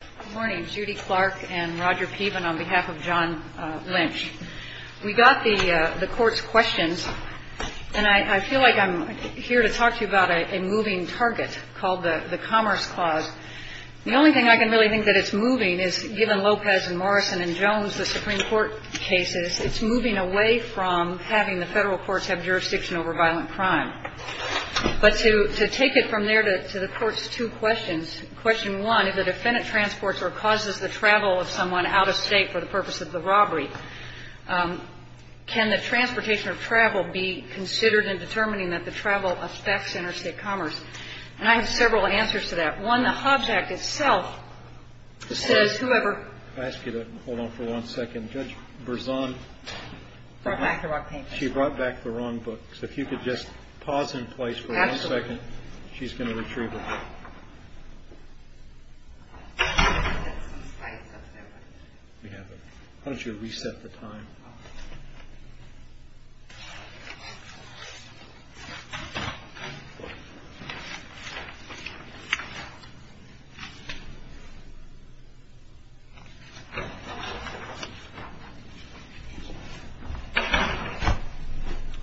Good morning, Judy Clark and Roger Peven on behalf of John Lynch. We got the court's questions, and I feel like I'm here to talk to you about a moving target called the Commerce Clause. The only thing I can really think that it's moving is, given Lopez and Morrison and Jones, the Supreme Court cases, it's moving away from having the federal courts have jurisdiction over violent crime. But to take it from there to the court's two questions, question one, if a defendant transports or causes the travel of someone out of state for the purpose of the robbery, can the transportation or travel be considered in determining that the travel affects interstate commerce? And I have several answers to that. One, the Hobbs Act itself says whoever I ask you to hold on for one second. Judge Berzon, she brought back the wrong book. So if you could just pause in place for one second, she's going to retrieve it. We have it. Why don't you reset the time?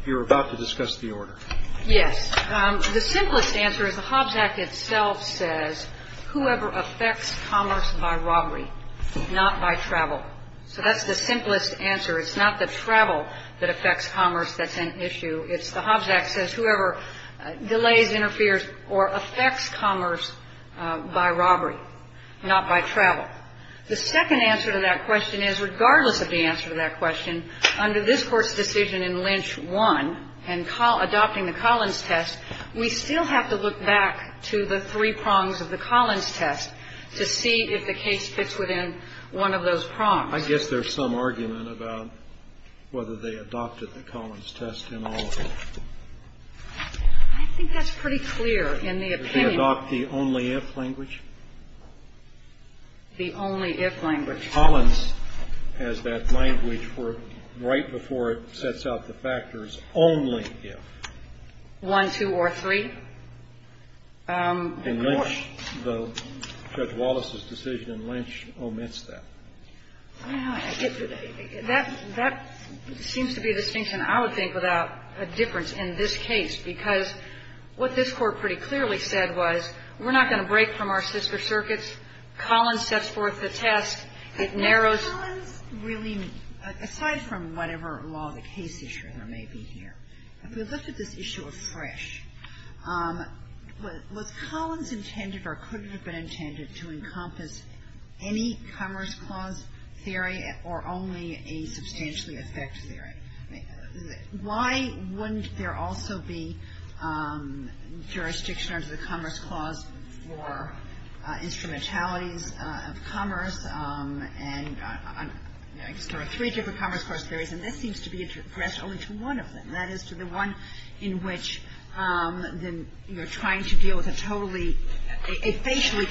You were about to discuss the order. Yes. The simplest answer is the Hobbs Act itself says whoever affects commerce by robbery, not by travel. So that's the simplest answer. It's not the travel that affects commerce that's an issue. It's the Hobbs Act says whoever delays, interferes, or affects commerce by robbery, not by travel. The second answer to that question is regardless of the answer to that question, under this Court's decision in Lynch 1 and adopting the Collins test, we still have to look back to the three prongs of the Collins test to see if the case fits within one of those prongs. I guess there's some argument about whether they adopted the Collins test in all of them. I think that's pretty clear in the opinion. Did they adopt the only if language? The only if language. Collins has that language for right before it sets out the factors, only if. One, two, or three. And Lynch, Judge Wallace's decision in Lynch omits that. That seems to be a distinction I would think without a difference in this case, because what this Court pretty clearly said was we're not going to break from our sister circuits. Collins sets forth the test. It narrows. Kagan. Well, Collins really, aside from whatever law the case issue there may be here, if we looked at this issue afresh, was Collins intended or could it have been intended to encompass any Commerce Clause theory or only a substantially affect theory? Why wouldn't there also be jurisdiction under the Commerce Clause for instrumentalities of commerce? And there are three different Commerce Clause theories, and this seems to be addressed only to one of them. That is, to the one in which you're trying to deal with a totally, a facially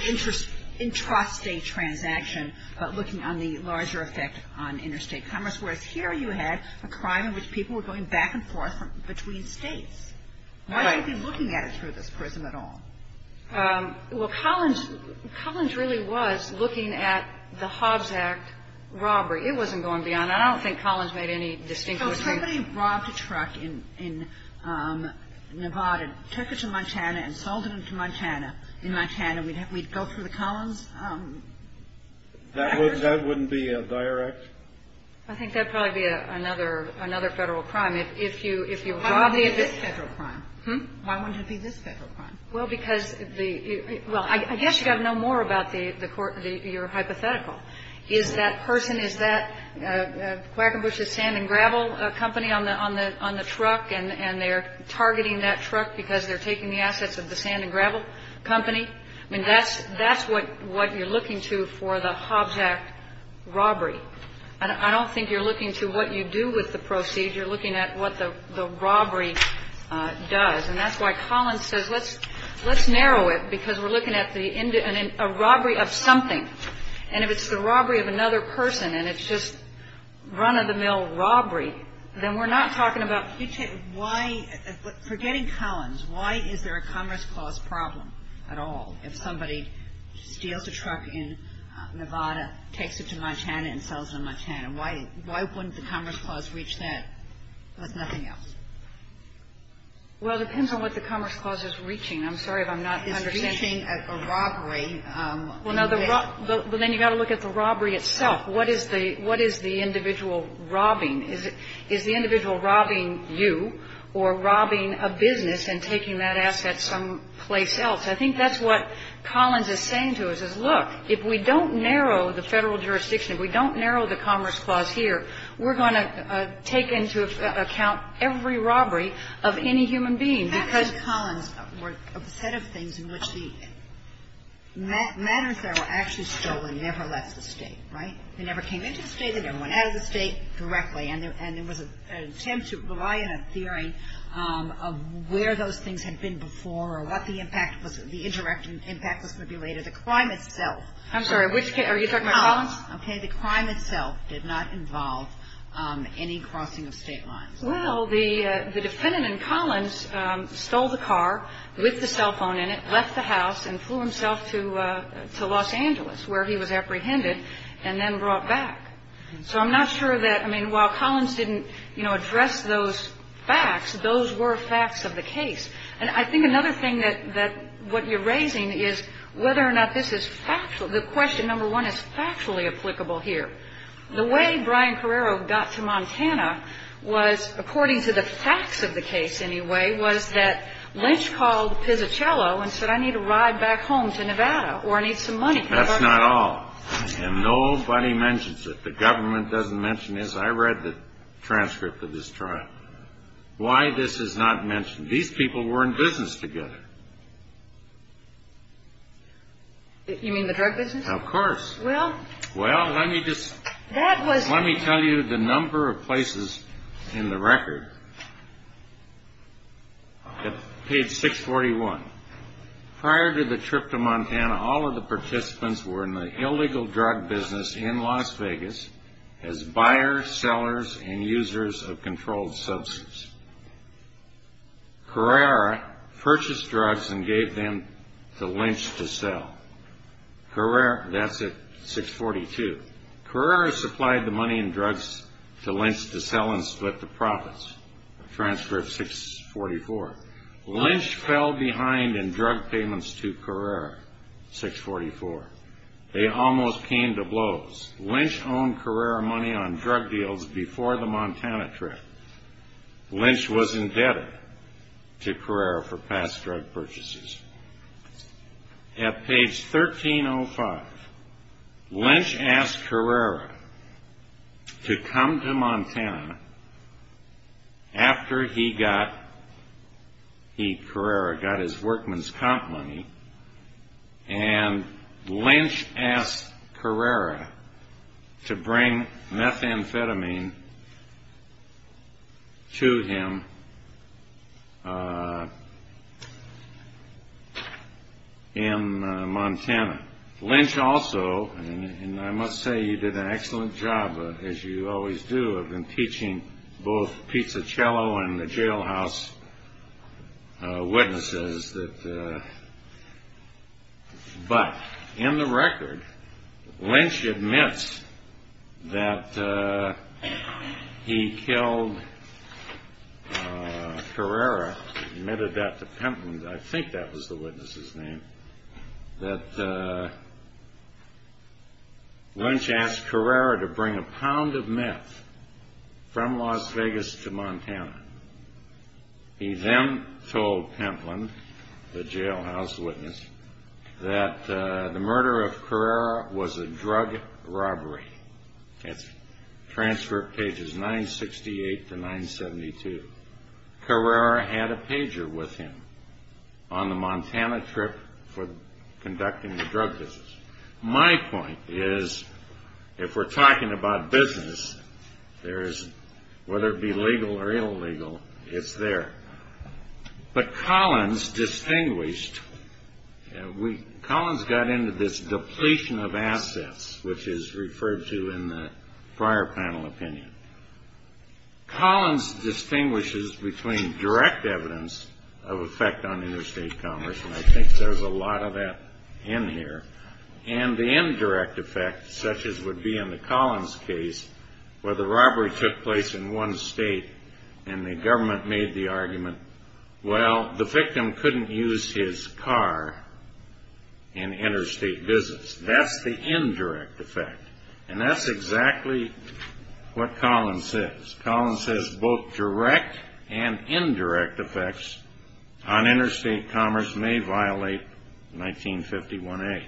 intrastate transaction, but looking on the larger effect on interstate commerce. Whereas here you had a crime in which people were going back and forth between states. Right. Why would you be looking at it through this prism at all? Well, Collins really was looking at the Hobbs Act robbery. It wasn't going beyond that. I don't think Collins made any distinctions. So if somebody robbed a truck in Nevada and took it to Montana and sold it to Montana in Montana, we'd go through the Collins Act? That wouldn't be a dire act? I think that would probably be another Federal crime. If you robbed a truck. Why wouldn't it be this Federal crime? Hmm? Why wouldn't it be this Federal crime? Well, because the – well, I guess you've got to know more about the court, your hypothetical. Is that person, is that Quackenbush's sand and gravel company on the truck, and they're targeting that truck because they're taking the assets of the sand and gravel company? I mean, that's what you're looking to for the Hobbs Act robbery. I don't think you're looking to what you do with the proceeds. You're looking at what the robbery does. And that's why Collins says let's narrow it because we're looking at the robbery of something. And if it's the robbery of another person and it's just run-of-the-mill robbery, then we're not talking about future – Forgetting Collins, why is there a Commerce Clause problem at all if somebody steals a truck in Nevada, takes it to Montana, and sells it in Montana? Why wouldn't the Commerce Clause reach that with nothing else? Well, it depends on what the Commerce Clause is reaching. I'm sorry if I'm not understanding. It's reaching a robbery. Well, now the – but then you've got to look at the robbery itself. What is the individual robbing? Is the individual robbing you or robbing a business and taking that asset someplace else? I think that's what Collins is saying to us is, look, if we don't narrow the federal jurisdiction, if we don't narrow the Commerce Clause here, we're going to take into account every robbery of any human being because – Perhaps if Collins were upset of things in which the matters that were actually stolen never left the state, right? They never came into the state. They never went out of the state directly. And there was an attempt to rely on a theory of where those things had been before or what the impact was – the indirect impact was going to be later. The crime itself – I'm sorry. Are you talking about Collins? Okay. The crime itself did not involve any crossing of state lines. Well, the defendant in Collins stole the car with the cell phone in it, left the house, and flew himself to Los Angeles where he was apprehended and then brought back. So I'm not sure that – I mean, while Collins didn't address those facts, those were facts of the case. And I think another thing that what you're raising is whether or not this is factual – the question, number one, is factually applicable here. The way Brian Carrero got to Montana was, according to the facts of the case anyway, was that Lynch called Pizzacello and said, I need a ride back home to Nevada or I need some money. That's not all. And nobody mentions it. The government doesn't mention it. I read the transcript of this trial. Why this is not mentioned. These people were in business together. You mean the drug business? Of course. Well, let me just – let me tell you the number of places in the record. Page 641. Prior to the trip to Montana, all of the participants were in the illegal drug business in Las Vegas as buyers, sellers, and users of controlled substance. Carrero purchased drugs and gave them to Lynch to sell. That's at 642. Carrero supplied the money and drugs to Lynch to sell and split the profits. Transcript 644. Lynch fell behind in drug payments to Carrero. 644. They almost came to blows. Lynch owned Carrero money on drug deals before the Montana trip. Lynch was indebted to Carrero for past drug purchases. At page 1305, Lynch asked Carrero to come to Montana after he got Carrero, got his workman's comp money, and Lynch asked Carrero to bring methamphetamine to him in Montana. Lynch also, and I must say you did an excellent job, as you always do, have been teaching both pizzacello and the jailhouse witnesses. But in the record, Lynch admits that he killed Carrero, admitted that to Pentland. I think that was the witness's name. That Lynch asked Carrero to bring a pound of meth from Las Vegas to Montana. He then told Pentland, the jailhouse witness, that the murder of Carrero was a drug robbery. That's transcript pages 968 to 972. Carrero had a pager with him on the Montana trip for conducting the drug business. My point is, if we're talking about business, whether it be legal or illegal, it's there. But Collins distinguished. Collins got into this depletion of assets, which is referred to in the prior panel opinion. Collins distinguishes between direct evidence of effect on interstate commerce, and I think there's a lot of that in here, and the indirect effect, such as would be in the Collins case, where the robbery took place in one state and the government made the argument, well, the victim couldn't use his car in interstate business. That's the indirect effect. And that's exactly what Collins says. Collins says both direct and indirect effects on interstate commerce may violate 1951A.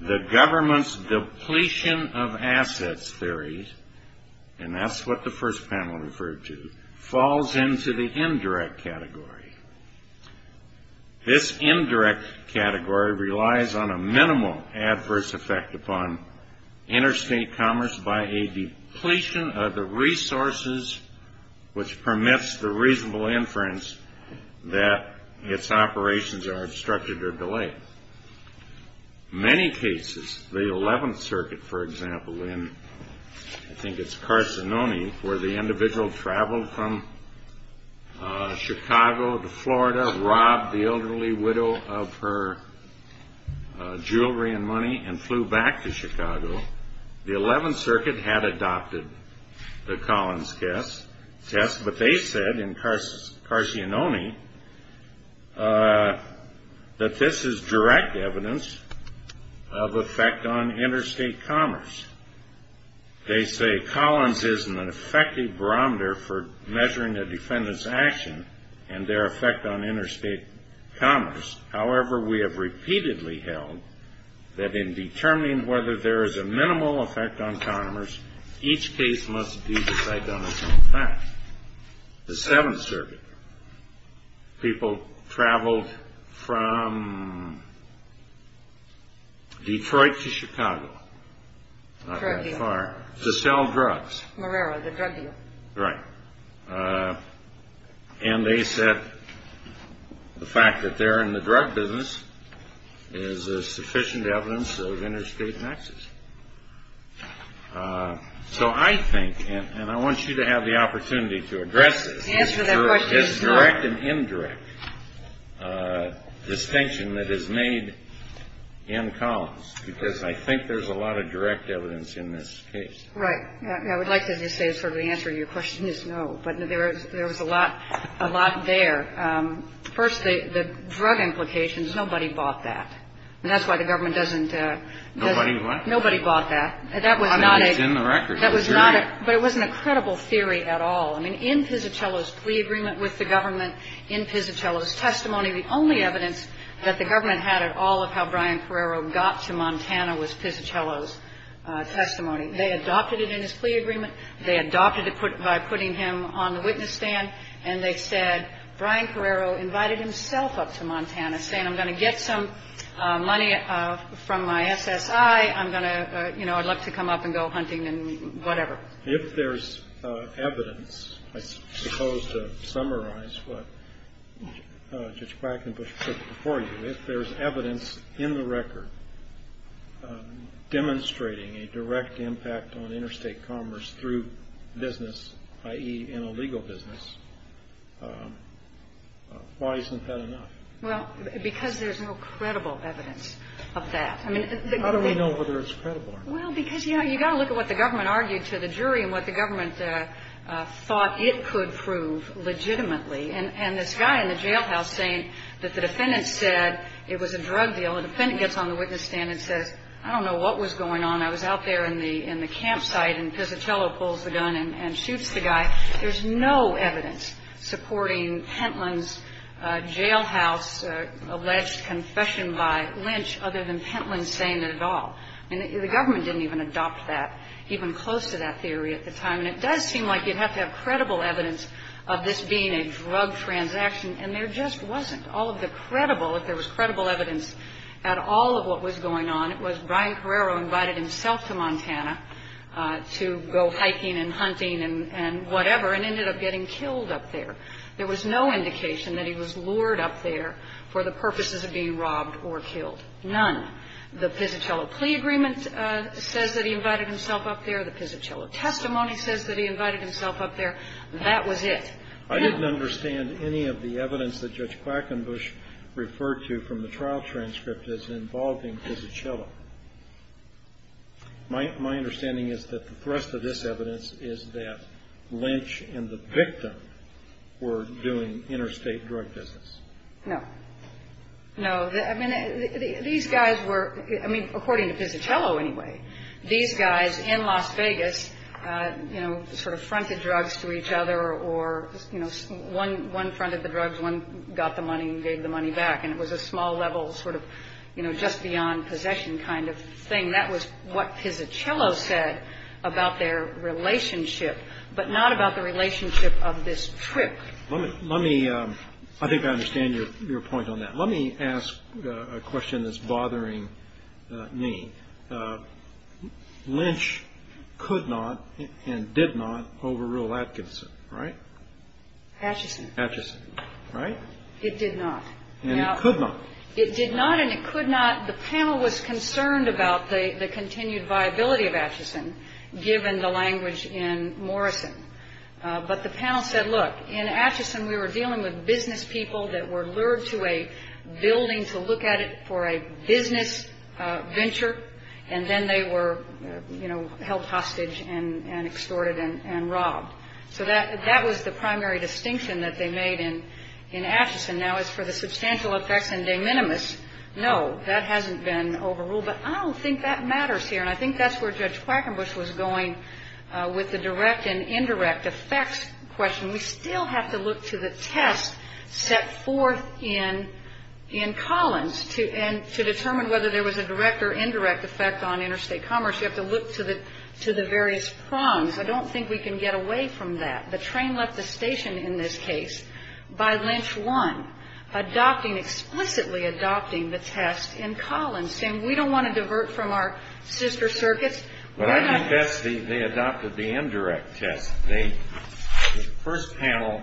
The government's depletion of assets theory, and that's what the first panel referred to, falls into the indirect category. This indirect category relies on a minimal adverse effect upon interstate commerce by a depletion of the resources, which permits the reasonable inference that its operations are obstructed or delayed. Many cases, the 11th Circuit, for example, in I think it's Carsononi, where the individual traveled from Chicago to Florida, robbed the elderly widow of her jewelry and money, and flew back to Chicago. The 11th Circuit had adopted the Collins test, but they said in Carsononi that this is direct evidence of effect on interstate commerce. They say Collins is an effective barometer for measuring a defendant's action and their effect on interstate commerce. However, we have repeatedly held that in determining whether there is a minimal effect on commerce, each case must be decided on its own time. The 7th Circuit, people traveled from Detroit to Chicago. Not that far. To sell drugs. Marrero, the drug dealer. Right. And they said the fact that they're in the drug business is sufficient evidence of interstate nexus. So I think, and I want you to have the opportunity to address this. The answer to that question is no. Is there a direct and indirect distinction that is made in Collins? Because I think there's a lot of direct evidence in this case. Right. I would like to just say sort of the answer to your question is no, but there was a lot there. First, the drug implications, nobody bought that. And that's why the government doesn't. Nobody what? Nobody bought that. I mean, it's in the record. But it wasn't a credible theory at all. I mean, in Pizzacello's plea agreement with the government, in Pizzacello's testimony, the only evidence that the government had at all of how Brian Carrero got to Montana was Pizzacello's testimony. They adopted it in his plea agreement. They adopted it by putting him on the witness stand. And they said Brian Carrero invited himself up to Montana saying I'm going to get some money from my SSI. I'm going to, you know, I'd love to come up and go hunting and whatever. If there's evidence, I suppose to summarize what Judge Black and Bush put before you, if there's evidence in the record demonstrating a direct impact on interstate commerce through business, i.e., in a legal business, why isn't that enough? Well, because there's no credible evidence of that. How do we know whether it's credible or not? Well, because, you know, you've got to look at what the government argued to the jury and what the government thought it could prove legitimately. And this guy in the jailhouse saying that the defendant said it was a drug deal, the defendant gets on the witness stand and says, I don't know what was going on. I was out there in the campsite. And Pizzacello pulls the gun and shoots the guy. There's no evidence supporting Pentland's jailhouse alleged confession by Lynch other than Pentland saying it at all. I mean, the government didn't even adopt that, even close to that theory at the time. And it does seem like you'd have to have credible evidence of this being a drug transaction. And there just wasn't. All of the credible, if there was credible evidence at all of what was going on, it was Brian Carrero invited himself to Montana to go hiking and hunting and whatever, and ended up getting killed up there. There was no indication that he was lured up there for the purposes of being robbed or killed. None. The Pizzacello plea agreement says that he invited himself up there. The Pizzacello testimony says that he invited himself up there. That was it. I didn't understand any of the evidence that Judge Quackenbush referred to from the trial transcript as involving Pizzacello. My understanding is that the thrust of this evidence is that Lynch and the victim were doing interstate drug business. No. No. I mean, these guys were, I mean, according to Pizzacello anyway, these guys in Las Vegas, you know, sort of fronted drugs to each other or, you know, one fronted the drugs, one got the money and gave the money back. And it was a small-level sort of, you know, just-beyond-possession kind of thing. That was what Pizzacello said about their relationship, but not about the relationship of this trip. Let me – I think I understand your point on that. Let me ask a question that's bothering me. Lynch could not and did not overrule Atkinson, right? Atchison, right? It did not. And it could not. It did not and it could not. The panel was concerned about the continued viability of Atchison given the language in Morrison. But the panel said, look, in Atchison we were dealing with business people that were lured to a building to look at it for a business venture. And then they were, you know, held hostage and extorted and robbed. So that was the primary distinction that they made in Atchison. Now, as for the substantial effects and de minimis, no, that hasn't been overruled. But I don't think that matters here. And I think that's where Judge Quackenbush was going with the direct and indirect effects question. We still have to look to the test set forth in Collins. And to determine whether there was a direct or indirect effect on interstate commerce, you have to look to the various prongs. I don't think we can get away from that. The train left the station in this case by Lynch 1, adopting – explicitly adopting the test in Collins, saying we don't want to divert from our sister circuits. But I think that's the – they adopted the indirect test. The first panel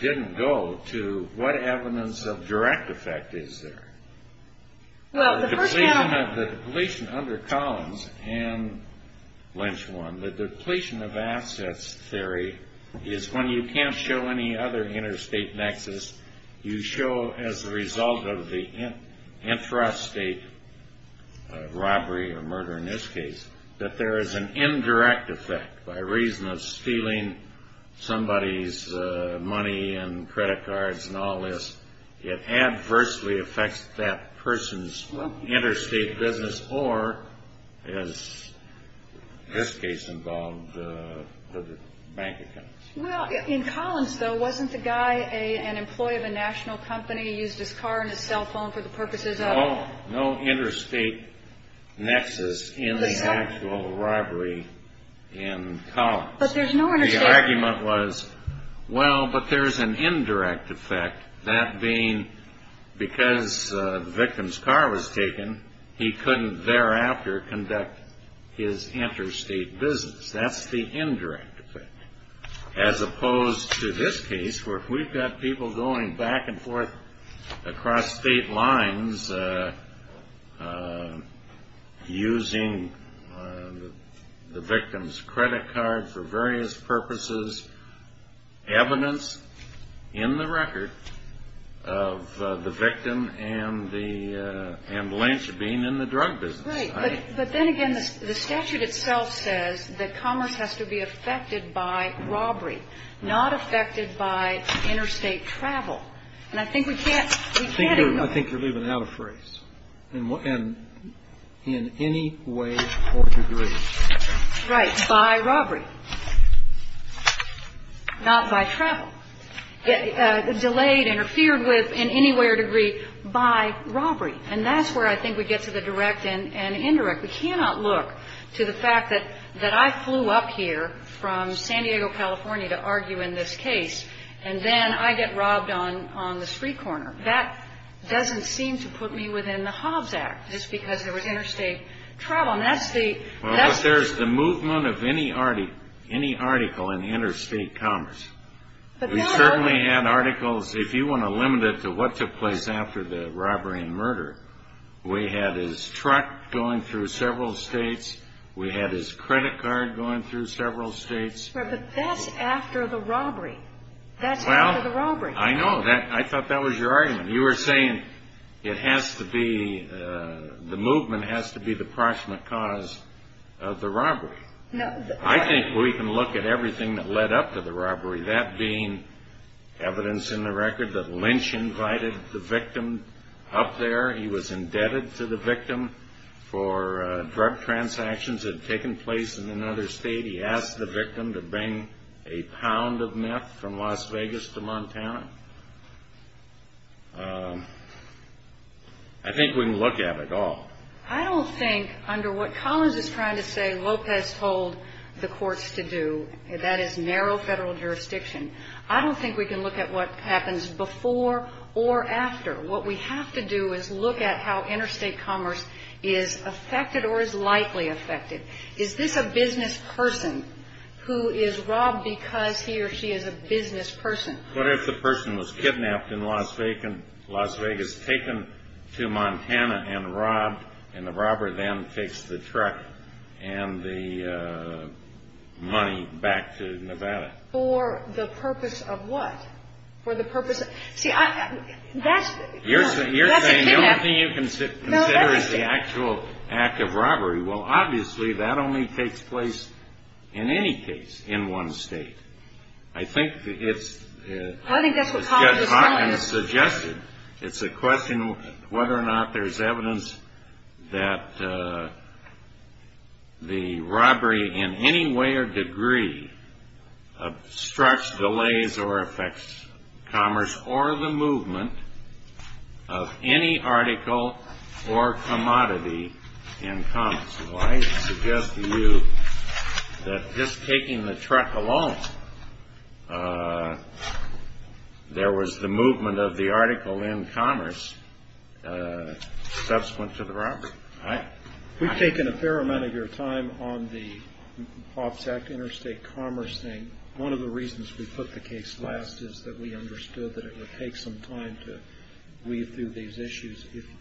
didn't go to what evidence of direct effect is there. The depletion under Collins and Lynch 1, the depletion of assets theory, is when you can't show any other interstate nexus, you show as a result of the intrastate robbery or murder in this case that there is an indirect effect. By reason of stealing somebody's money and credit cards and all this, it adversely affects that person's interstate business or, as this case involved, the bank account. Well, in Collins, though, wasn't the guy an employee of a national company, used his car and his cell phone for the purposes of – No, no interstate nexus in the actual robbery in Collins. But there's no – The argument was, well, but there's an indirect effect, that being because the victim's car was taken, he couldn't thereafter conduct his interstate business. That's the indirect effect. As opposed to this case where we've got people going back and forth across state lines using the victim's credit card for various purposes, evidence in the record of the victim and the – and Lynch being in the drug business. Right. But then again, the statute itself says that commerce has to be affected by robbery, not affected by interstate travel. And I think we can't ignore – I think you're leaving out a phrase. In any way or degree. Right. By robbery. Not by travel. Delayed, interfered with in any way or degree by robbery. And that's where I think we get to the direct and indirect. We cannot look to the fact that I flew up here from San Diego, California, to argue in this case, and then I get robbed on the street corner. That doesn't seem to put me within the Hobbs Act, just because there was interstate travel. And that's the – Well, but there's the movement of any article in interstate commerce. We certainly had articles. If you want to limit it to what took place after the robbery and murder, we had his truck going through several states. We had his credit card going through several states. Right, but that's after the robbery. That's after the robbery. Well, I know. I thought that was your argument. You were saying it has to be – the movement has to be the proximate cause of the robbery. I think we can look at everything that led up to the robbery, that being evidence in the record that Lynch invited the victim up there. He was indebted to the victim for drug transactions that had taken place in another state. He asked the victim to bring a pound of meth from Las Vegas to Montana. I think we can look at it all. I don't think, under what Collins is trying to say Lopez told the courts to do, that is narrow federal jurisdiction, I don't think we can look at what happens before or after. What we have to do is look at how interstate commerce is affected or is likely affected. Is this a business person who is robbed because he or she is a business person? What if the person was kidnapped in Las Vegas, taken to Montana and robbed, and the robber then takes the truck and the money back to Nevada? For the purpose of what? For the purpose of – see, that's – You're saying the only thing you can consider is the actual act of robbery. Well, obviously that only takes place in any case in one state. I think it's – I think that's what Collins is saying. It's a question whether or not there's evidence that the robbery in any way or degree obstructs, delays, or affects commerce or the movement of any article or commodity in commerce. Well, I suggest to you that just taking the truck alone, there was the movement of the article in commerce subsequent to the robbery. We've taken a fair amount of your time on the OPS Act interstate commerce thing. One of the reasons we put the case last is that we understood that it would take some time to weave through these issues. If –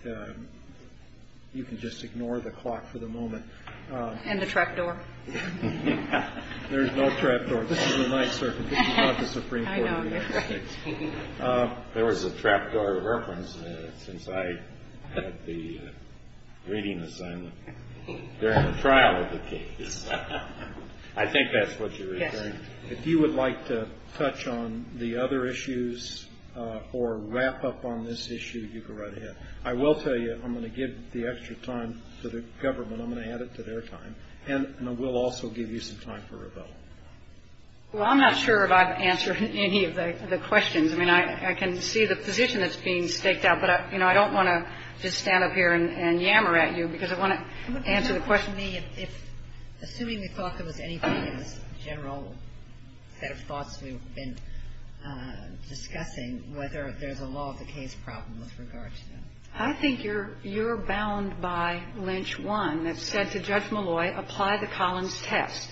you can just ignore the clock for the moment. And the trapdoor. There's no trapdoor. This is the Ninth Circuit. This is not the Supreme Court. I know. That's right. There was a trapdoor reference since I had the reading assignment during the trial of the case. I think that's what you're referring to. If you would like to touch on the other issues or wrap up on this issue, you go right ahead. I will tell you I'm going to give the extra time to the government. I'm going to add it to their time. And I will also give you some time for rebuttal. Well, I'm not sure if I've answered any of the questions. I mean, I can see the position that's being staked out. But, you know, I don't want to just stand up here and yammer at you because I want to answer the question. I mean, if – assuming we thought there was anything in this general set of thoughts we've been discussing, whether there's a law of the case problem with regard to that. I think you're bound by Lynch 1 that said to Judge Malloy, apply the Collins test.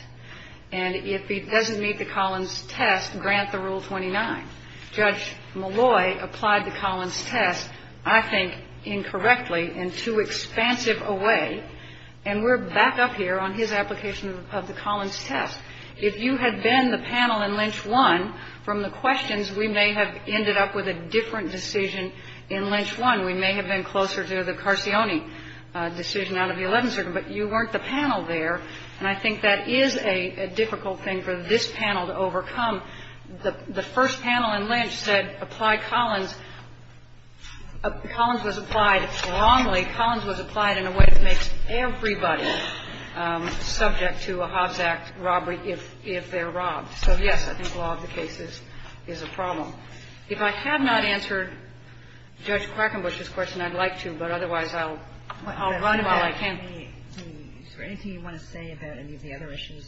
And if he doesn't meet the Collins test, grant the Rule 29. Judge Malloy applied the Collins test, I think, incorrectly and too expansive a way. And we're back up here on his application of the Collins test. If you had been the panel in Lynch 1, from the questions, we may have ended up with a different decision in Lynch 1. We may have been closer to the Carcione decision out of the 11th Circuit. But you weren't the panel there. And I think that is a difficult thing for this panel to overcome. The first panel in Lynch said apply Collins. Collins was applied wrongly. Applying Collins was applied in a way that makes everybody subject to a House Act robbery if they're robbed. So, yes, I think law of the case is a problem. If I have not answered Judge Quackenbush's question, I'd like to, but otherwise I'll run while I can. Kagan. Is there anything you want to say about any of the other issues?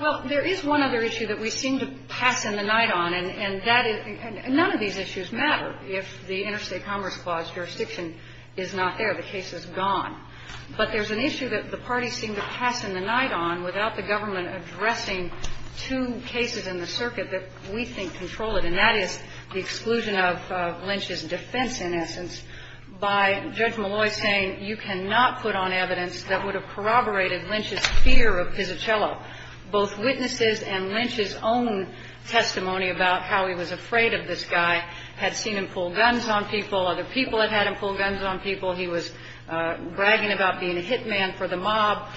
Well, there is one other issue that we seem to pass in the night on, and that is – and none of these issues matter if the Interstate Commerce Clause jurisdiction is not there. The case is gone. But there's an issue that the parties seem to pass in the night on without the government addressing two cases in the circuit that we think control it, and that is the exclusion of Lynch's defense, in essence, by Judge Malloy saying you cannot put on evidence that would have corroborated Lynch's fear of Pizzacello. Both witnesses and Lynch's own testimony about how he was afraid of this guy had seen him pull guns on people. Other people had had him pull guns on people. He was bragging about being a hitman for the mob.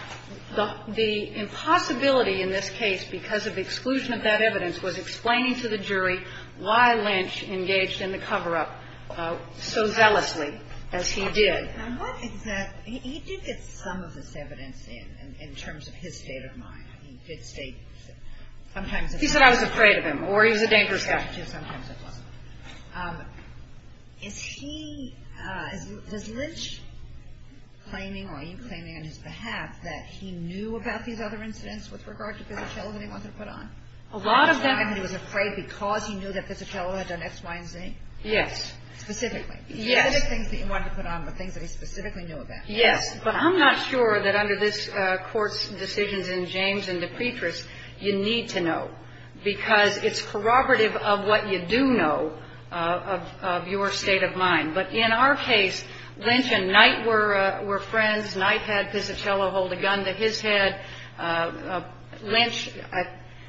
The impossibility in this case, because of exclusion of that evidence, was explaining to the jury why Lynch engaged in the cover-up so zealously as he did. And what exactly – he did get some of this evidence in, in terms of his state of mind. He did state sometimes that he was afraid of Pizzacello. He said I was afraid of him, or he was a dangerous guy. Sometimes it was. Is he – does Lynch claiming, or are you claiming on his behalf, that he knew about these other incidents with regard to Pizzacello that he wanted to put on? A lot of them. He was afraid because he knew that Pizzacello had done X, Y, and Z? Yes. Specifically. Yes. The other things that he wanted to put on were things that he specifically knew about. Yes. But I'm not sure that under this Court's decisions in James and De Petris, you need to know, because it's corroborative of what you do know of your state of mind. But in our case, Lynch and Knight were friends. Knight had Pizzacello hold a gun to his head. Lynch –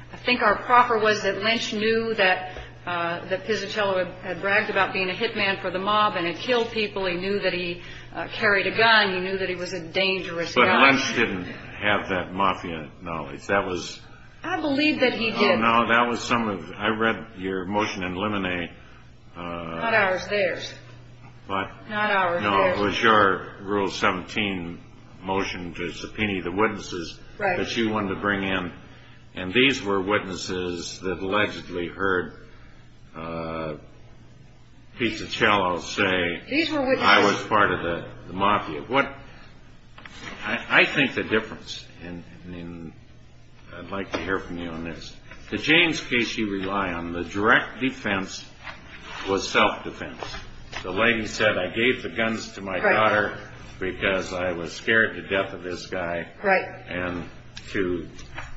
I think our proffer was that Lynch knew that Pizzacello had bragged about being a hitman for the mob and had killed people. He knew that he carried a gun. He knew that he was a dangerous guy. But Lynch didn't have that mafia knowledge. I believe that he did. No, that was some of – I read your motion in Lemonnet. Not ours, theirs. What? Not ours, theirs. No, it was your Rule 17 motion to subpoena the witnesses that you wanted to bring in. And these were witnesses that allegedly heard Pizzacello say, I was part of the mafia. I think the difference, and I'd like to hear from you on this. The James case you rely on, the direct defense was self-defense. The lady said, I gave the guns to my daughter because I was scared to death of this guy. And to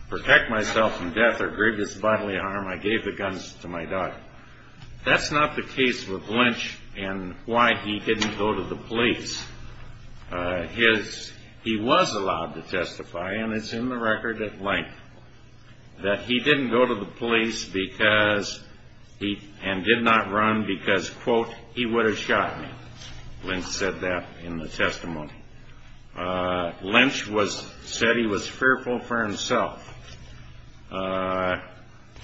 protect myself from death or grievous bodily harm, I gave the guns to my daughter. That's not the case with Lynch and why he didn't go to the police. He was allowed to testify, and it's in the record at length, that he didn't go to the police and did not run because, quote, he would have shot me. Lynch said that in the testimony. Lynch said he was fearful for himself.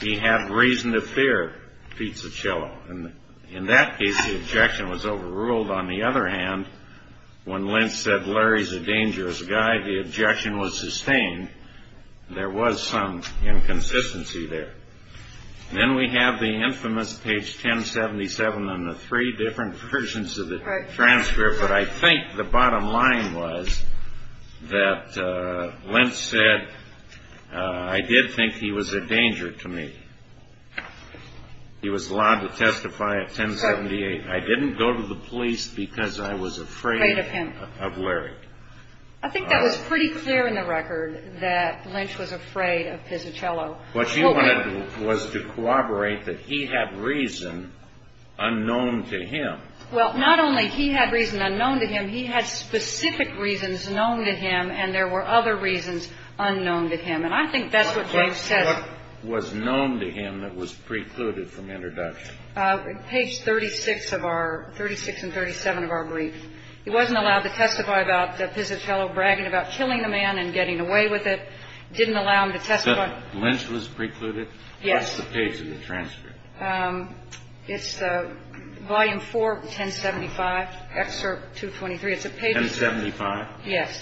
He had reason to fear Pizzacello. And in that case, the objection was overruled. On the other hand, when Lynch said, Larry's a dangerous guy, the objection was sustained. There was some inconsistency there. Then we have the infamous page 1077 on the three different versions of the transfer. But I think the bottom line was that Lynch said, I did think he was a danger to me. He was allowed to testify at 1078. I didn't go to the police because I was afraid of Larry. I think that was pretty clear in the record that Lynch was afraid of Pizzacello. What she wanted was to corroborate that he had reason unknown to him. Well, not only he had reason unknown to him, he had specific reasons known to him, and there were other reasons unknown to him. And I think that's what James says. What was known to him that was precluded from introduction? Page 36 of our – 36 and 37 of our brief. He wasn't allowed to testify about Pizzacello bragging about killing the man and getting away with it. Didn't allow him to testify. Lynch was precluded? Yes. What's the page in the transcript? It's Volume 4, 1075, Excerpt 223. 1075? Yes.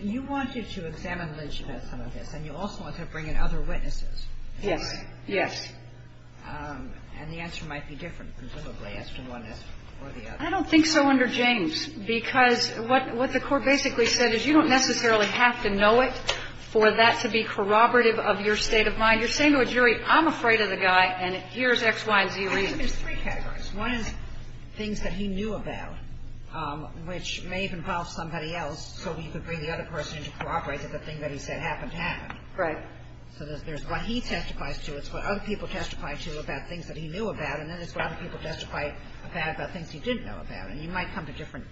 You wanted to examine Lynch about some of this, and you also wanted to bring in other witnesses. Yes. Yes. And the answer might be different, presumably, as to one or the other. I don't think so under James, because what the Court basically said is you don't necessarily have to know it for that to be corroborative of your state of mind. You're saying to a jury, I'm afraid of the guy, and here's X, Y, and Z reasons. There's three categories. One is things that he knew about, which may have involved somebody else, so we could bring the other person in to corroborate that the thing that he said happened, happened. Right. So there's what he testifies to, it's what other people testify to about things that he knew about, and then it's what other people testify about about things he didn't know about. And you might come to different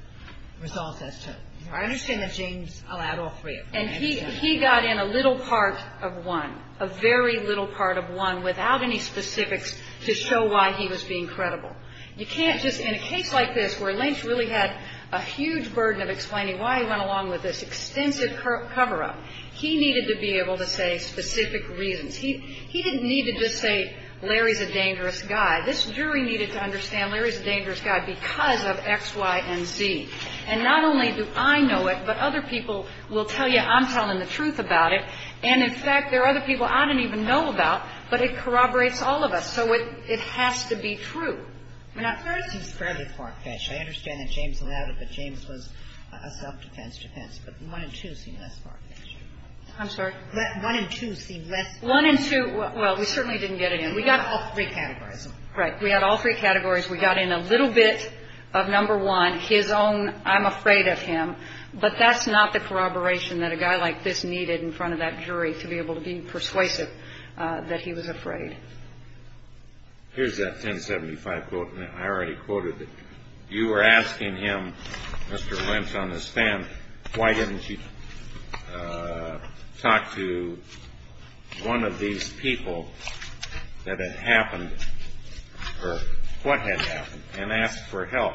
results as to. I understand that James allowed all three of them. And he got in a little part of one, a very little part of one, without any specifics to show why he was being credible. You can't just, in a case like this where Lynch really had a huge burden of explaining why he went along with this extensive cover-up, he needed to be able to say specific reasons. He didn't need to just say Larry's a dangerous guy. This jury needed to understand Larry's a dangerous guy because of X, Y, and Z. And not only do I know it, but other people will tell you I'm telling the truth about And, in fact, there are other people I didn't even know about, but it corroborates all of us. So it has to be true. I mean, at first he's fairly far-fetched. I understand that James allowed it, but James was a self-defense defense. But one and two seem less far-fetched. I'm sorry? One and two seem less far-fetched. One and two, well, we certainly didn't get it in. We got all three categories. Right. We had all three categories. We got in a little bit of number one, his own I'm afraid of him, but that's not the corroboration that a guy like this needed in front of that jury to be able to be persuasive that he was afraid. Here's that 1075 quote. I already quoted it. You were asking him, Mr. Lynch, on the stand, why didn't you talk to one of these people that had happened or what had happened and ask for help?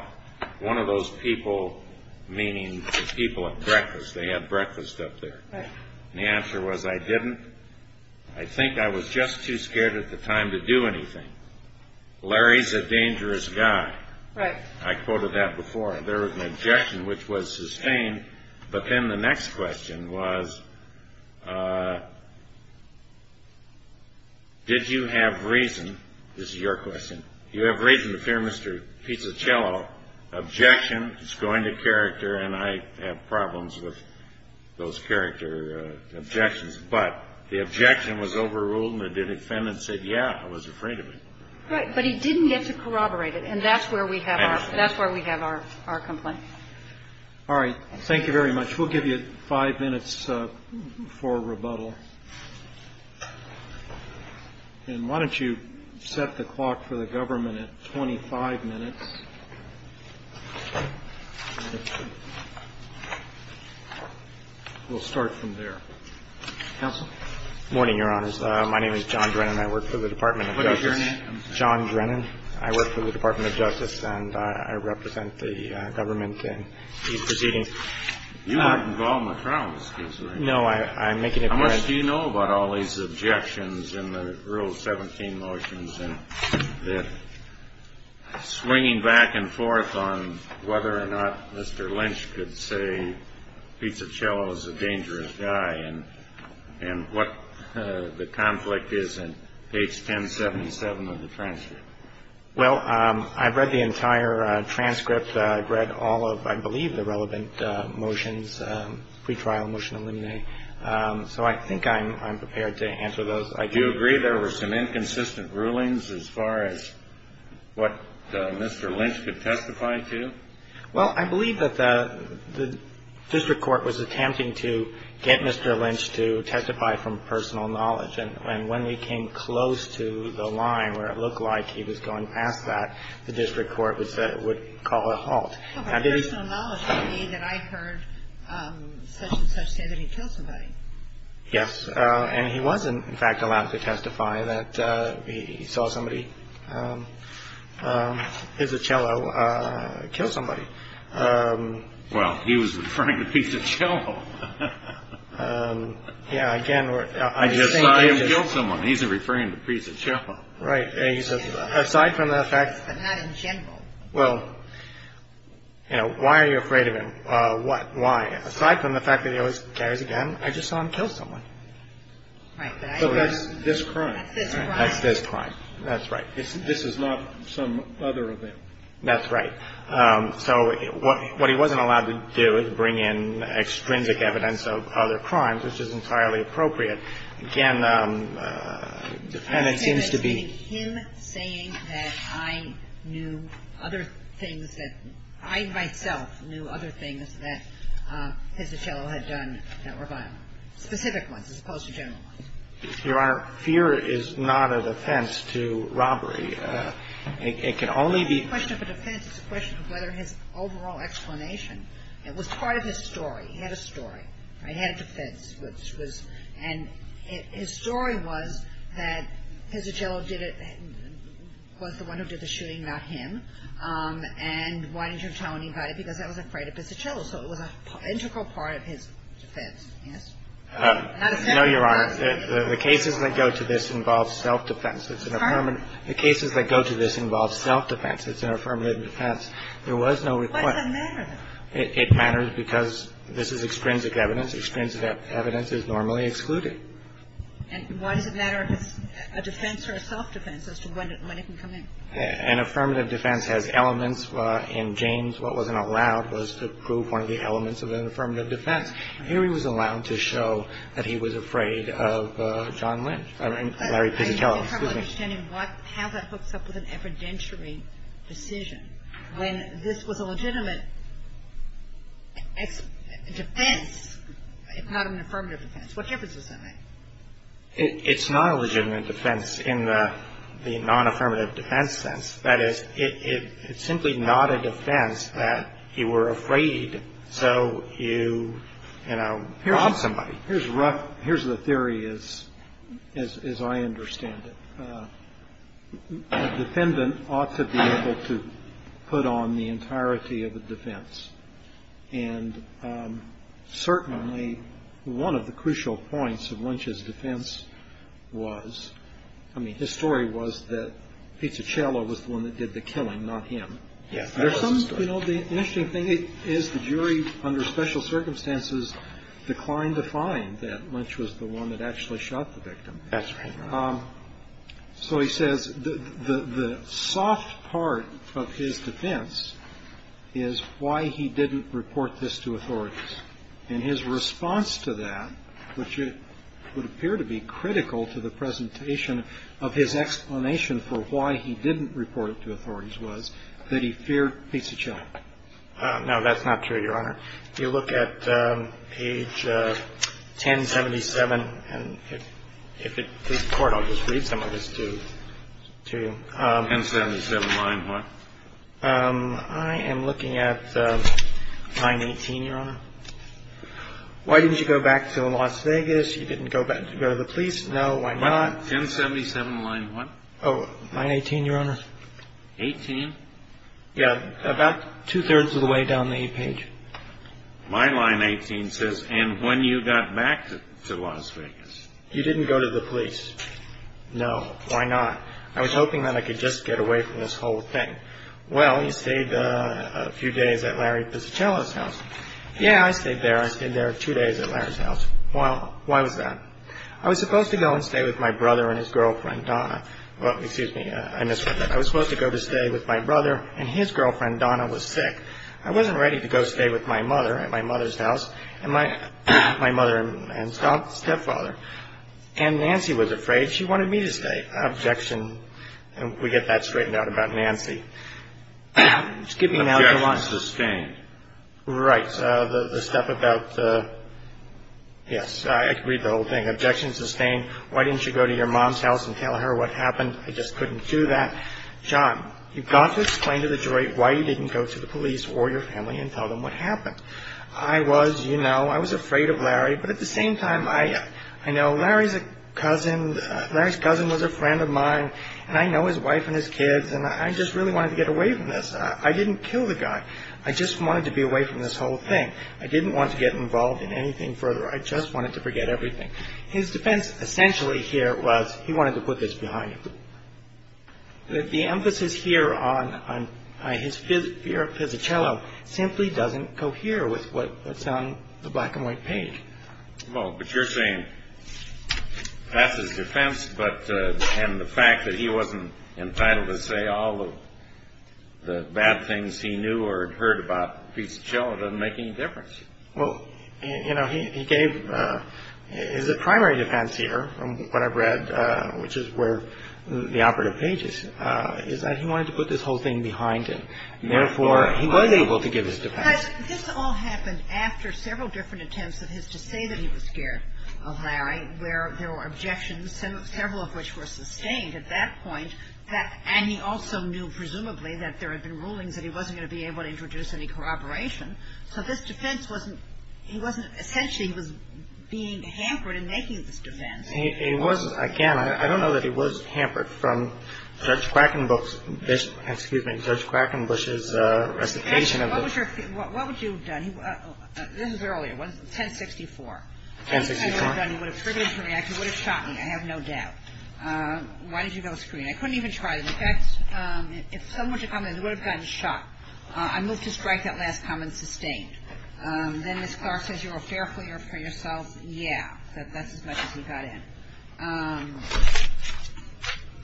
One of those people meaning the people at breakfast. They had breakfast up there. Right. And the answer was, I didn't. I think I was just too scared at the time to do anything. Larry's a dangerous guy. Right. I quoted that before. There was an objection which was sustained, but then the next question was, did you have reason, this is your question, you have reason to fear Mr. Pizzacello. Objection is going to character, and I have problems with those character objections. But the objection was overruled, and the defendant said, yeah, I was afraid of him. Right. But he didn't get to corroborate it, and that's where we have our complaint. All right. Thank you very much. We'll give you five minutes for rebuttal. And why don't you set the clock for the government at 25 minutes. We'll start from there. Counsel. Morning, Your Honors. My name is John Drennan. I work for the Department of Justice. What is your name? I'm sorry. John Drennan. I work for the Department of Justice, and I represent the government in these proceedings. You are not involved in the trial in this case, are you? No. I'm making a correction. How much do you know about all these objections in the Rule 17 motions, and swinging back and forth on whether or not Mr. Lynch could say Pizzacello is a dangerous guy, and what the conflict is in page 1077 of the transcript? Well, I've read the entire transcript. I've read all of, I believe, the relevant motions, pretrial motion eliminate. So I think I'm prepared to answer those. I do agree there were some inconsistent rulings as far as what Mr. Lynch could testify to. Well, I believe that the district court was attempting to get Mr. Lynch to testify from personal knowledge. And when we came close to the line where it looked like he was going past that, the district court said it would call a halt. Personal knowledge would mean that I heard such-and-such say that he killed somebody. Yes. And he was, in fact, allowed to testify that he saw somebody, Pizzacello, kill somebody. Well, he was referring to Pizzacello. Yeah. I just saw him kill someone. He's referring to Pizzacello. Right. And he says, aside from the fact that he always carries a gun, I just saw him kill someone. Right. So that's this crime. That's this crime. That's this crime. That's right. This is not some other event. That's right. So what he wasn't allowed to do is bring in extrinsic evidence of other crimes, which is entirely appropriate. Again, defendant seems to be… He's referring to him saying that I knew other things that… I myself knew other things that Pizzacello had done that were violent, specific ones as opposed to general ones. Your Honor, fear is not a defense to robbery. It can only be… It's not a question of a defense. It's a question of whether his overall explanation… It was part of his story. He had a story. He had a defense, which was… And his story was that Pizzacello was the one who did the shooting, not him. And why didn't you tell anybody? Because I wasn't afraid of Pizzacello. So it was an integral part of his defense. Yes? No, Your Honor. The cases that go to this involve self-defense. It's an affirmative… The cases that go to this involve self-defense. It's an affirmative defense. There was no request… Why does it matter, then? It matters because this is extrinsic evidence. Extrinsic evidence is normally excluded. And why does it matter if it's a defense or a self-defense as to when it can come in? An affirmative defense has elements. In James, what wasn't allowed was to prove one of the elements of an affirmative defense. Here he was allowed to show that he was afraid of John Lynch… Larry Pizzacello. Excuse me. And how that hooks up with an evidentiary decision. When this was a legitimate defense, if not an affirmative defense, what difference does that make? It's not a legitimate defense in the non-affirmative defense sense. That is, it's simply not a defense that you were afraid, so you, you know, robbed somebody. Here's the theory as I understand it. A defendant ought to be able to put on the entirety of a defense. And certainly, one of the crucial points of Lynch's defense was… I mean, his story was that Pizzacello was the one that did the killing, not him. Yes, that was his story. You know, the interesting thing is the jury, under special circumstances, declined to find that Lynch was the one that actually shot the victim. That's right. So he says the soft part of his defense is why he didn't report this to authorities. And his response to that, which would appear to be critical to the presentation of his explanation for why he didn't report it to authorities, was that he feared Pizzacello. No, that's not true, Your Honor. If you look at page 1077, and if it please the Court, I'll just read some of this to you. 1077 line what? I am looking at line 18, Your Honor. Why didn't you go back to Las Vegas? You didn't go to the police? No. Why not? 1077 line what? Oh, line 18, Your Honor. 18? Yeah, about two-thirds of the way down the page. My line 18 says, and when you got back to Las Vegas? You didn't go to the police. No. Why not? I was hoping that I could just get away from this whole thing. Well, you stayed a few days at Larry Pizzacello's house. Yeah, I stayed there. I stayed there two days at Larry's house. Why was that? I was supposed to go and stay with my brother and his girlfriend Donna. Well, excuse me. I was supposed to go to stay with my brother, and his girlfriend Donna was sick. I wasn't ready to go stay with my mother at my mother's house and my mother and stepfather. And Nancy was afraid. She wanted me to stay. Objection. And we get that straightened out about Nancy. Objection sustained. Right. The stuff about, yes, I can read the whole thing. Objection sustained. Why didn't you go to your mom's house and tell her what happened? I just couldn't do that. John, you've got to explain to the jury why you didn't go to the police or your family and tell them what happened. I was, you know, I was afraid of Larry. But at the same time, I know Larry's a cousin. Larry's cousin was a friend of mine. And I know his wife and his kids. And I just really wanted to get away from this. I didn't kill the guy. I just wanted to be away from this whole thing. I didn't want to get involved in anything further. I just wanted to forget everything. His defense essentially here was he wanted to put this behind him. The emphasis here on his fear of Fisichello simply doesn't cohere with what's on the black and white page. Well, but you're saying that's his defense. But and the fact that he wasn't entitled to say all of the bad things he knew or heard about Fisichello doesn't make any difference. Well, you know, he gave his primary defense here from what I've read, which is where the operative page is, is that he wanted to put this whole thing behind him. Therefore, he was able to give his defense. But this all happened after several different attempts of his to say that he was scared of Larry, where there were objections, several of which were sustained at that point. And he also knew presumably that there had been rulings that he wasn't going to be able to introduce any corroboration. So this defense wasn't he wasn't essentially he was being hampered in making this defense. He was, again, I don't know that he was hampered from Judge Quackenbush's, excuse me, Judge Quackenbush's recitation of the. What would you have done? This is earlier. 1064. 1064. He would have triggered the reaction. He would have shot me, I have no doubt. Why did you go to screen? I couldn't even try it. In fact, if someone were to comment, he would have gotten shot. I move to strike that last comment sustained. Then Ms. Clark says you're a fair player for yourself. Yeah. That's as much as he got in.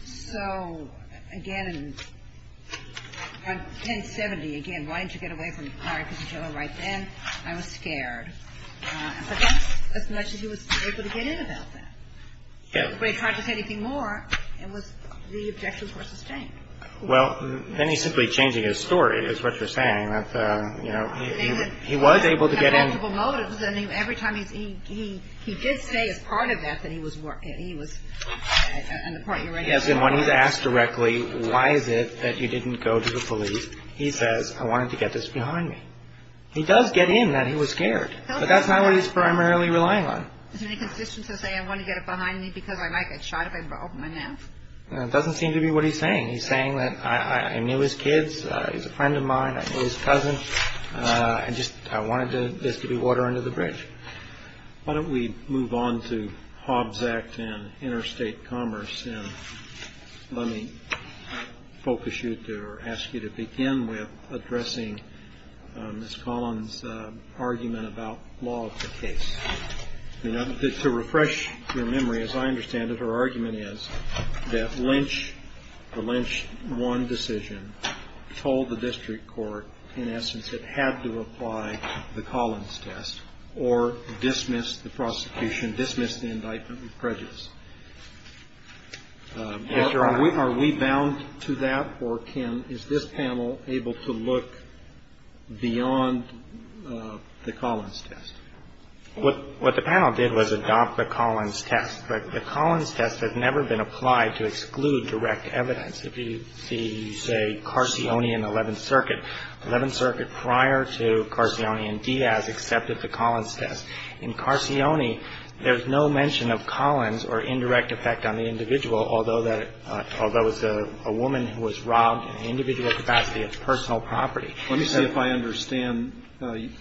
So, again, on 1070, again, why didn't you get away from Larry Pizzagillo right then? I was scared. But that's as much as he was able to get in about that. If anybody tried to say anything more, it was the objections were sustained. Well, then he's simply changing his story, is what you're saying. You know, he was able to get in. He had multiple motives. And every time he did say as part of that that he was, and the part you're writing about. Yes. And when he's asked directly, why is it that you didn't go to the police, he says, I wanted to get this behind me. He does get in that he was scared. But that's not what he's primarily relying on. Is there any consistency to say I want to get it behind me because I might get shot if I open my mouth? It doesn't seem to be what he's saying. He's saying that I knew his kids. He's a friend of mine. I knew his cousin. I just I wanted this to be water under the bridge. Why don't we move on to Hobbs Act and interstate commerce? Let me focus you to ask you to begin with addressing this Collins argument about law of the case. You know, to refresh your memory, as I understand it, her argument is that Lynch, the Lynch one decision, told the district court, in essence, it had to apply the Collins test or dismiss the prosecution, dismiss the indictment with prejudice. Are we bound to that? Or is this panel able to look beyond the Collins test? What the panel did was adopt the Collins test. But the Collins test has never been applied to exclude direct evidence. If you see, say, Carcione and 11th Circuit, 11th Circuit prior to Carcione and Diaz accepted the Collins test. In Carcione, there's no mention of Collins or indirect effect on the individual, although that was a woman who was robbed in an individual capacity of personal property. Let me see if I understand.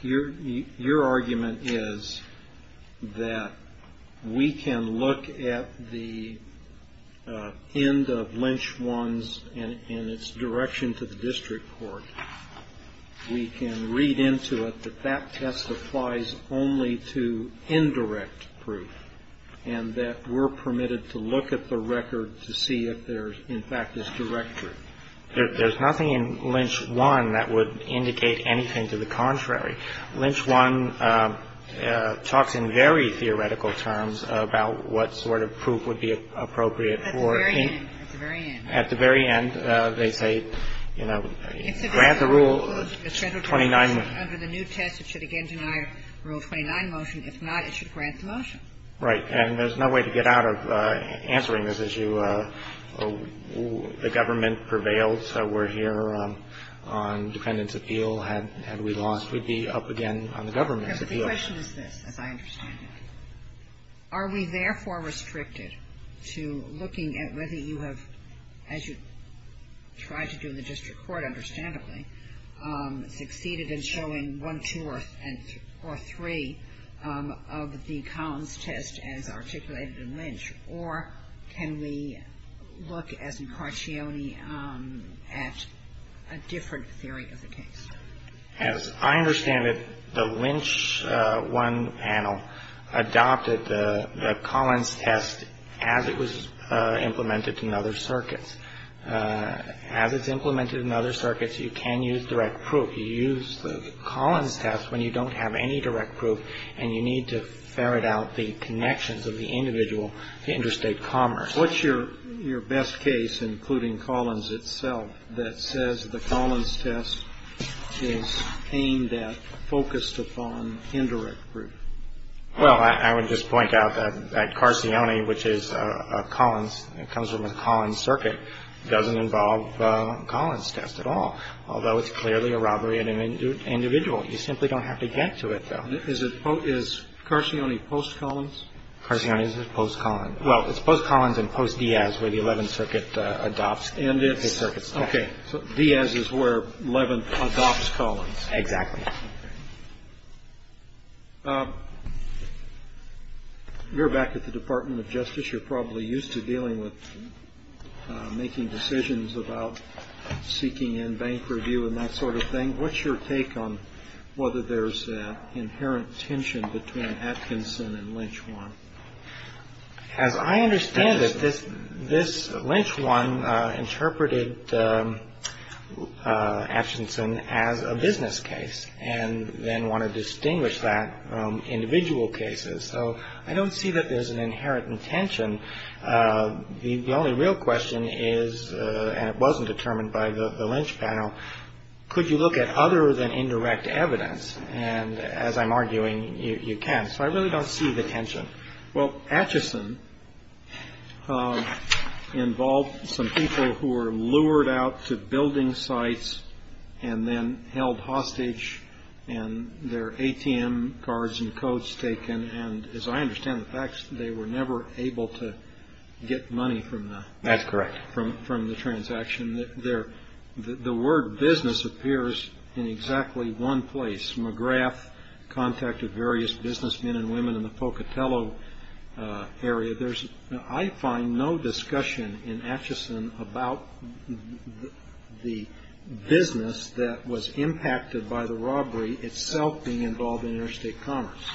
Your argument is that we can look at the end of Lynch one's and its direction to the district court. We can read into it that that test applies only to indirect proof and that we're permitted to look at the record to see if there, in fact, is direct proof. There's nothing in Lynch one that would indicate anything to the contrary. Lynch one talks in very theoretical terms about what sort of proof would be appropriate for any at the very end. They say, you know, grant the Rule 29. Under the new test, it should again deny Rule 29 motion. If not, it should grant the motion. Right. And there's no way to get out of answering this issue. The government prevailed, so we're here on defendant's appeal. Had we lost, we'd be up again on the government's appeal. The question is this, as I understand it. Are we therefore restricted to looking at whether you have, as you tried to do in the district court, understandably, succeeded in showing one, two, or three of the Collins test as articulated in Lynch? Or can we look, as in Carcione, at a different theory of the case? Yes. I understand that the Lynch one panel adopted the Collins test as it was implemented in other circuits. As it's implemented in other circuits, you can use direct proof. You use the Collins test when you don't have any direct proof, and you need to ferret out the connections of the individual to interstate commerce. What's your best case, including Collins itself, that says the Collins test is aimed at, focused upon indirect proof? Well, I would just point out that Carcione, which is a Collins, comes from a Collins circuit, doesn't involve a Collins test at all, although it's clearly a robbery at an individual. You simply don't have to get to it, though. Is Carcione post-Collins? Carcione is post-Collins. Well, it's post-Collins and post-Diaz where the Eleventh Circuit adopts the circuit's test. Okay. So Diaz is where Eleventh adopts Collins. Exactly. You're back at the Department of Justice. You're probably used to dealing with making decisions about seeking in bank review and that sort of thing. What's your take on whether there's inherent tension between Atkinson and Lynch 1? As I understand it, this Lynch 1 interpreted Atkinson as a business case. And then wanted to distinguish that from individual cases. So I don't see that there's an inherent tension. The only real question is, and it wasn't determined by the Lynch panel, could you look at other than indirect evidence? And as I'm arguing, you can. So I really don't see the tension. Well, Atkinson involved some people who were lured out to building sites and then held hostage, and their ATM cards and codes taken. And as I understand the facts, they were never able to get money from the transaction. That's correct. The word business appears in exactly one place. McGrath contacted various businessmen and women in the Pocatello area. I find no discussion in Atkinson about the business that was impacted by the robbery itself being involved in interstate commerce.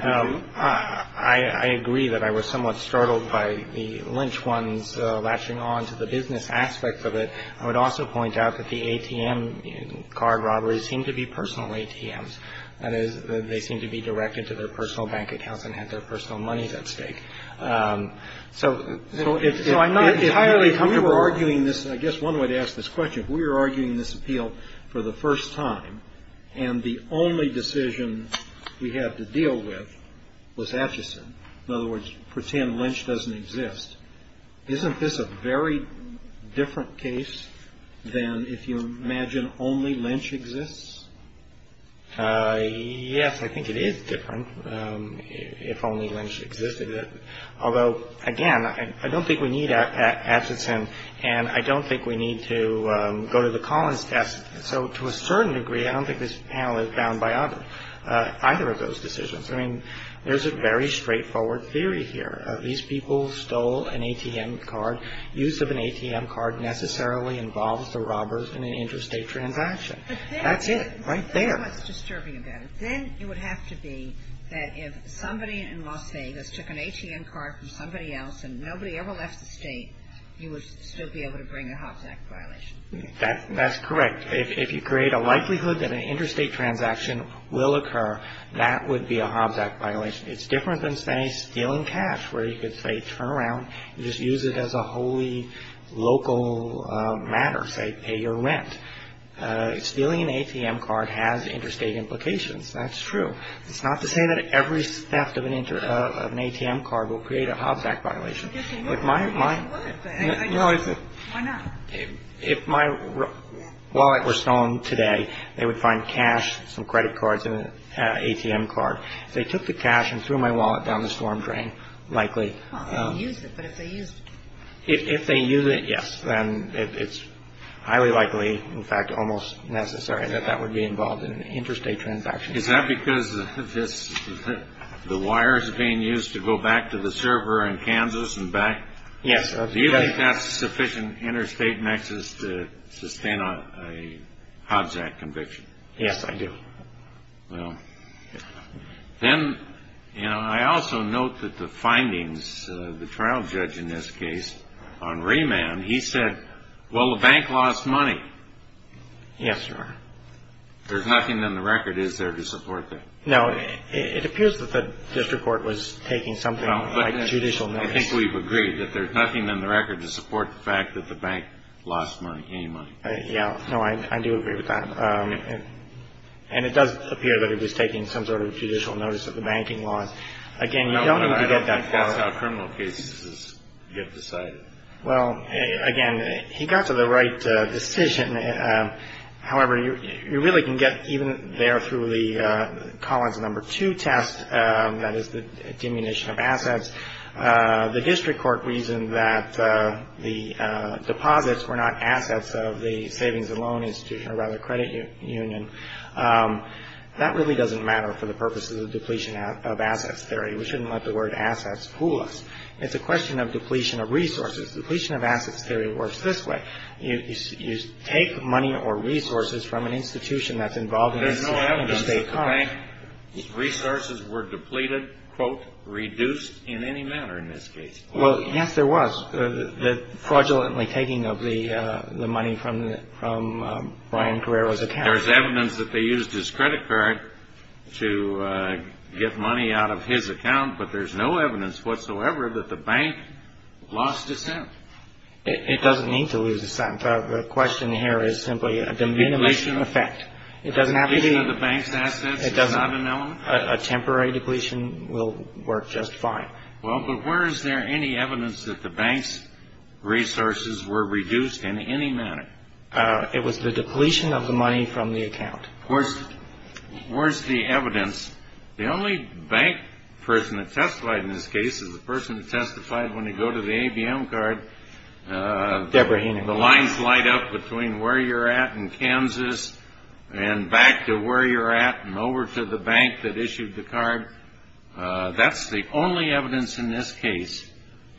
I agree that I was somewhat startled by the Lynch 1's lashing on to the business aspect of it. I would also point out that the ATM card robberies seem to be personal ATMs. That is, they seem to be directed to their personal bank accounts and have their personal monies at stake. So I'm not entirely comfortable. If we were arguing this, and I guess one way to ask this question, if we were arguing this appeal for the first time, and the only decision we had to deal with was Atkinson, in other words, pretend Lynch doesn't exist, isn't this a very different case than if you imagine only Lynch exists? Yes, I think it is different if only Lynch existed. Although, again, I don't think we need Atkinson, and I don't think we need to go to the Collins test. So to a certain degree, I don't think this panel is bound by either of those decisions. I mean, there's a very straightforward theory here. These people stole an ATM card. Use of an ATM card necessarily involves the robbers in an interstate transaction. That's it right there. That's what's disturbing about it. Then it would have to be that if somebody in Las Vegas took an ATM card from somebody else and nobody ever left the state, you would still be able to bring a Hobbs Act violation. That's correct. If you create a likelihood that an interstate transaction will occur, that would be a Hobbs Act violation. It's different than, say, stealing cash, where you could, say, turn around and just use it as a wholly local matter, say pay your rent. Stealing an ATM card has interstate implications. That's true. It's not to say that every theft of an ATM card will create a Hobbs Act violation. If my wallet were stolen today, they would find cash, some credit cards and an ATM card. If they took the cash and threw my wallet down the storm drain, likely. If they use it, yes. Then it's highly likely, in fact, almost necessary that that would be involved in an interstate transaction. Is that because the wires are being used to go back to the server in Kansas and back? Yes. Do you think that's sufficient interstate nexus to sustain a Hobbs Act conviction? Yes, I do. Well, then, you know, I also note that the findings, the trial judge in this case on remand, he said, well, the bank lost money. Yes, sir. There's nothing in the record that is there to support that. No, it appears that the district court was taking something like judicial notice. I think we've agreed that there's nothing in the record to support the fact that the bank lost money, any money. Yeah, no, I do agree with that. And it does appear that he was taking some sort of judicial notice of the banking loss. Again, you don't need to get that far. I don't think that's how criminal cases get decided. Well, again, he got to the right decision. However, you really can get even there through the Collins number two test, that is the diminution of assets. The district court reasoned that the deposits were not assets of the savings and loan institution, or rather credit union. That really doesn't matter for the purposes of depletion of assets theory. We shouldn't let the word assets fool us. It's a question of depletion of resources. Depletion of assets theory works this way. You take money or resources from an institution that's involved in interstate commerce. Resources were depleted, quote, reduced in any manner in this case. Well, yes, there was the fraudulently taking of the money from Brian Carrero's account. There's evidence that they used his credit card to get money out of his account. But there's no evidence whatsoever that the bank lost dissent. It doesn't need to lose dissent. The question here is simply a diminution of effect. It doesn't have to be the bank's assets. It does not an element. A temporary depletion will work just fine. Well, but where is there any evidence that the bank's resources were reduced in any manner? It was the depletion of the money from the account. Where's the evidence? The only bank person that testified in this case is the person who testified when you go to the ABM card. Debra Heenan. The lines light up between where you're at in Kansas and back to where you're at and over to the bank that issued the card. That's the only evidence in this case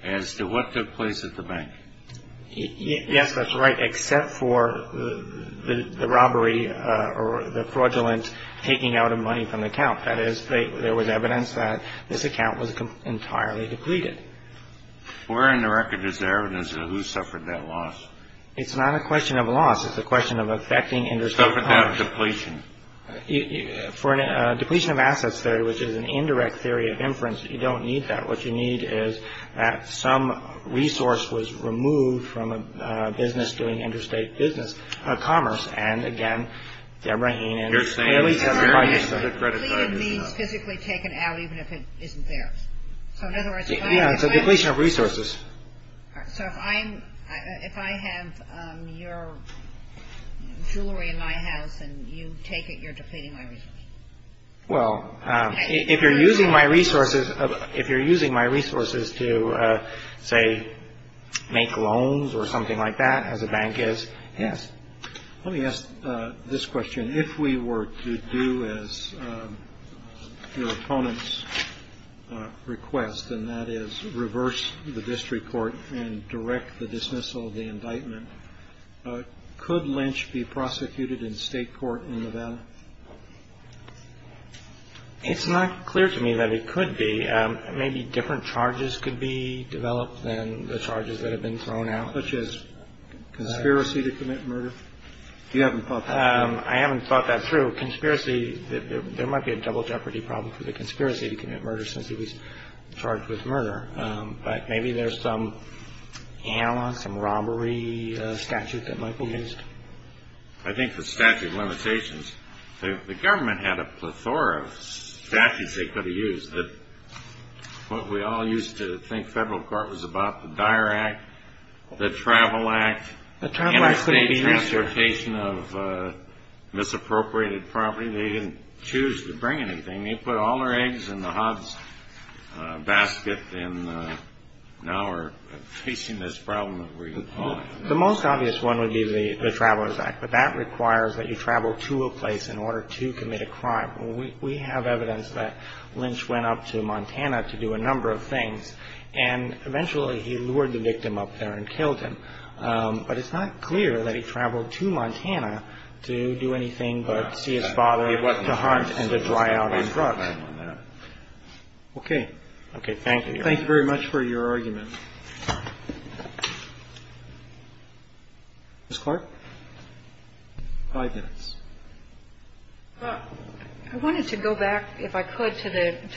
as to what took place at the bank. Yes, that's right, except for the robbery or the fraudulent taking out of money from the account. That is, there was evidence that this account was entirely depleted. Where in the record is there evidence of who suffered that loss? It's not a question of loss. It's a question of affecting interstate commerce. Suffered that depletion. For a depletion of assets theory, which is an indirect theory of inference, you don't need that. What you need is that some resource was removed from a business doing interstate business, commerce. And, again, Debra Heenan clearly testified to that. Physically taken out, even if it isn't there. So, in other words, it's a depletion of resources. So if I'm if I have your jewelry in my house and you take it, you're depleting my resources. Well, if you're using my resources, if you're using my resources to, say, make loans or something like that as a bank is. Yes. Let me ask this question. If we were to do as your opponents request, and that is reverse the district court and direct the dismissal of the indictment. Could Lynch be prosecuted in state court in Nevada? It's not clear to me that it could be. Maybe different charges could be developed than the charges that have been thrown out, such as conspiracy to commit murder. You haven't thought I haven't thought that through conspiracy. There might be a double jeopardy problem for the conspiracy to commit murder since he was charged with murder. But maybe there's some some robbery statute that might be used. I think the statute of limitations, the government had a plethora of statutes they could have used. But we all used to think federal court was about the dire act, the travel act, the transportation of misappropriated property. They didn't choose to bring anything. They put all their eggs in the hob's basket. And now we're facing this problem. The most obvious one would be the Travelers Act. But that requires that you travel to a place in order to commit a crime. We have evidence that Lynch went up to Montana to do a number of things. And eventually he lured the victim up there and killed him. But it's not clear that he traveled to Montana to do anything but see his father, to hunt and to dry out on drugs. Okay. Thank you. Thank you very much for your argument. Ms. Clark? Five minutes. I wanted to go back, if I could, to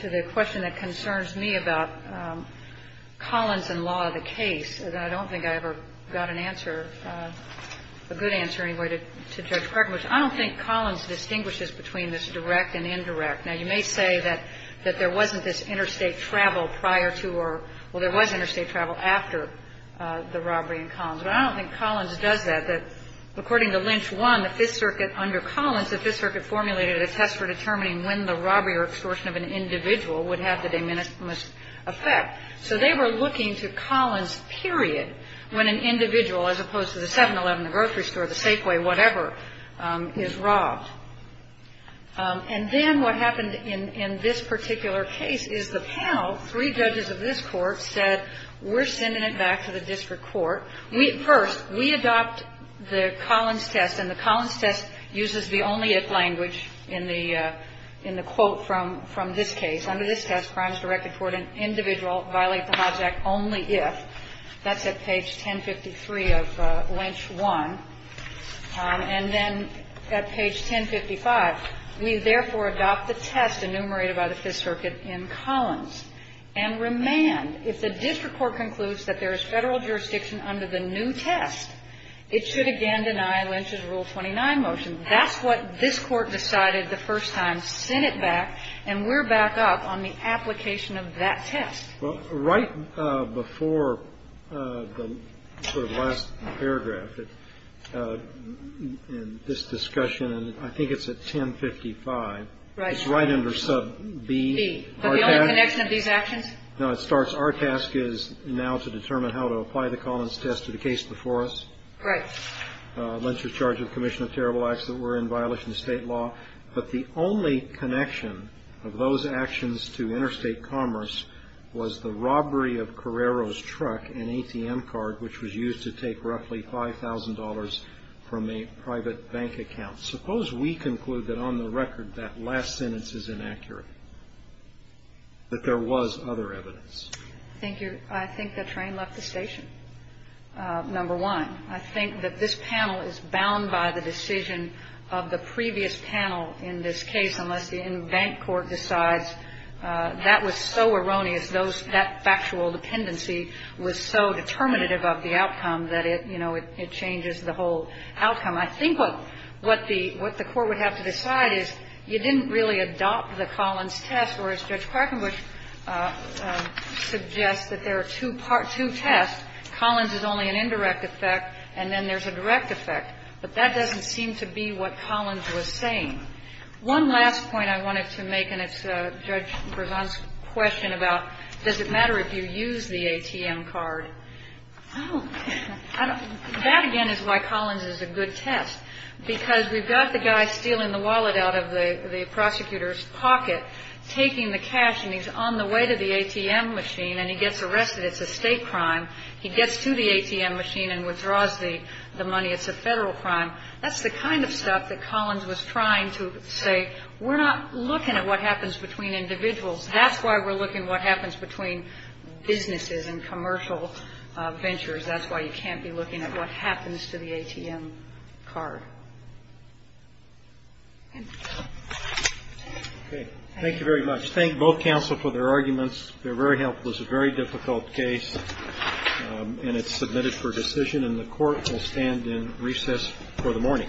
the question that concerns me about Collins and law of the case. I don't think I ever got an answer, a good answer anyway, to Judge Clark. I don't think Collins distinguishes between this direct and indirect. Now, you may say that there wasn't this interstate travel prior to or, well, there was interstate travel after the robbery in Collins. But I don't think Collins does that. According to Lynch 1, the Fifth Circuit under Collins, the Fifth Circuit formulated a test for determining when the robbery or extortion of an individual would have the de minimis effect. So they were looking to Collins period when an individual, as opposed to the 7-11, the grocery store, the Safeway, whatever, is robbed. And then what happened in this particular case is the panel, three judges of this court, said we're sending it back to the district court. First, we adopt the Collins test, and the Collins test uses the only if language in the quote from this case. Under this test, crimes directed toward an individual violate the Hobbs Act only if. That's at page 1053 of Lynch 1. And then at page 1055, we therefore adopt the test enumerated by the Fifth Circuit in Collins and remand. If the district court concludes that there is Federal jurisdiction under the new test, it should again deny Lynch's Rule 29 motion. That's what this Court decided the first time, sent it back, and we're back up on the application of that test. Well, right before the sort of last paragraph in this discussion, and I think it's at 1055. Right. It's right under sub B. But the only connection of these actions? No, it starts, our task is now to determine how to apply the Collins test to the case before us. Right. Lynch was charged with commission of terrible acts that were in violation of state law. But the only connection of those actions to interstate commerce was the robbery of Carrero's truck, an ATM card, which was used to take roughly $5,000 from a private bank account. Suppose we conclude that on the record that last sentence is inaccurate, that there was other evidence. Thank you. I think the train left the station, number one. I think that this panel is bound by the decision of the previous panel in this case, unless the in-bank court decides that was so erroneous, that factual dependency was so determinative of the outcome that it, you know, it changes the whole outcome. I think what the Court would have to decide is you didn't really adopt the Collins test, whereas Judge Quackenbush suggests that there are two tests. Collins is only an indirect effect, and then there's a direct effect. But that doesn't seem to be what Collins was saying. One last point I wanted to make, and it's Judge Bregon's question about does it matter if you use the ATM card. That, again, is why Collins is a good test, because we've got the guy stealing the wallet out of the prosecutor's pocket, taking the cash, and he's on the way to the ATM machine, and he gets arrested. It's a State crime. He gets to the ATM machine and withdraws the money. It's a Federal crime. That's the kind of stuff that Collins was trying to say. We're not looking at what happens between individuals. That's why we're looking at what happens between businesses and commercial ventures. That's why you can't be looking at what happens to the ATM card. Okay. Thank you very much. Thank both counsel for their arguments. They're very helpful. It's a very difficult case, and it's submitted for decision, and the Court will stand in recess for the morning. Thank you.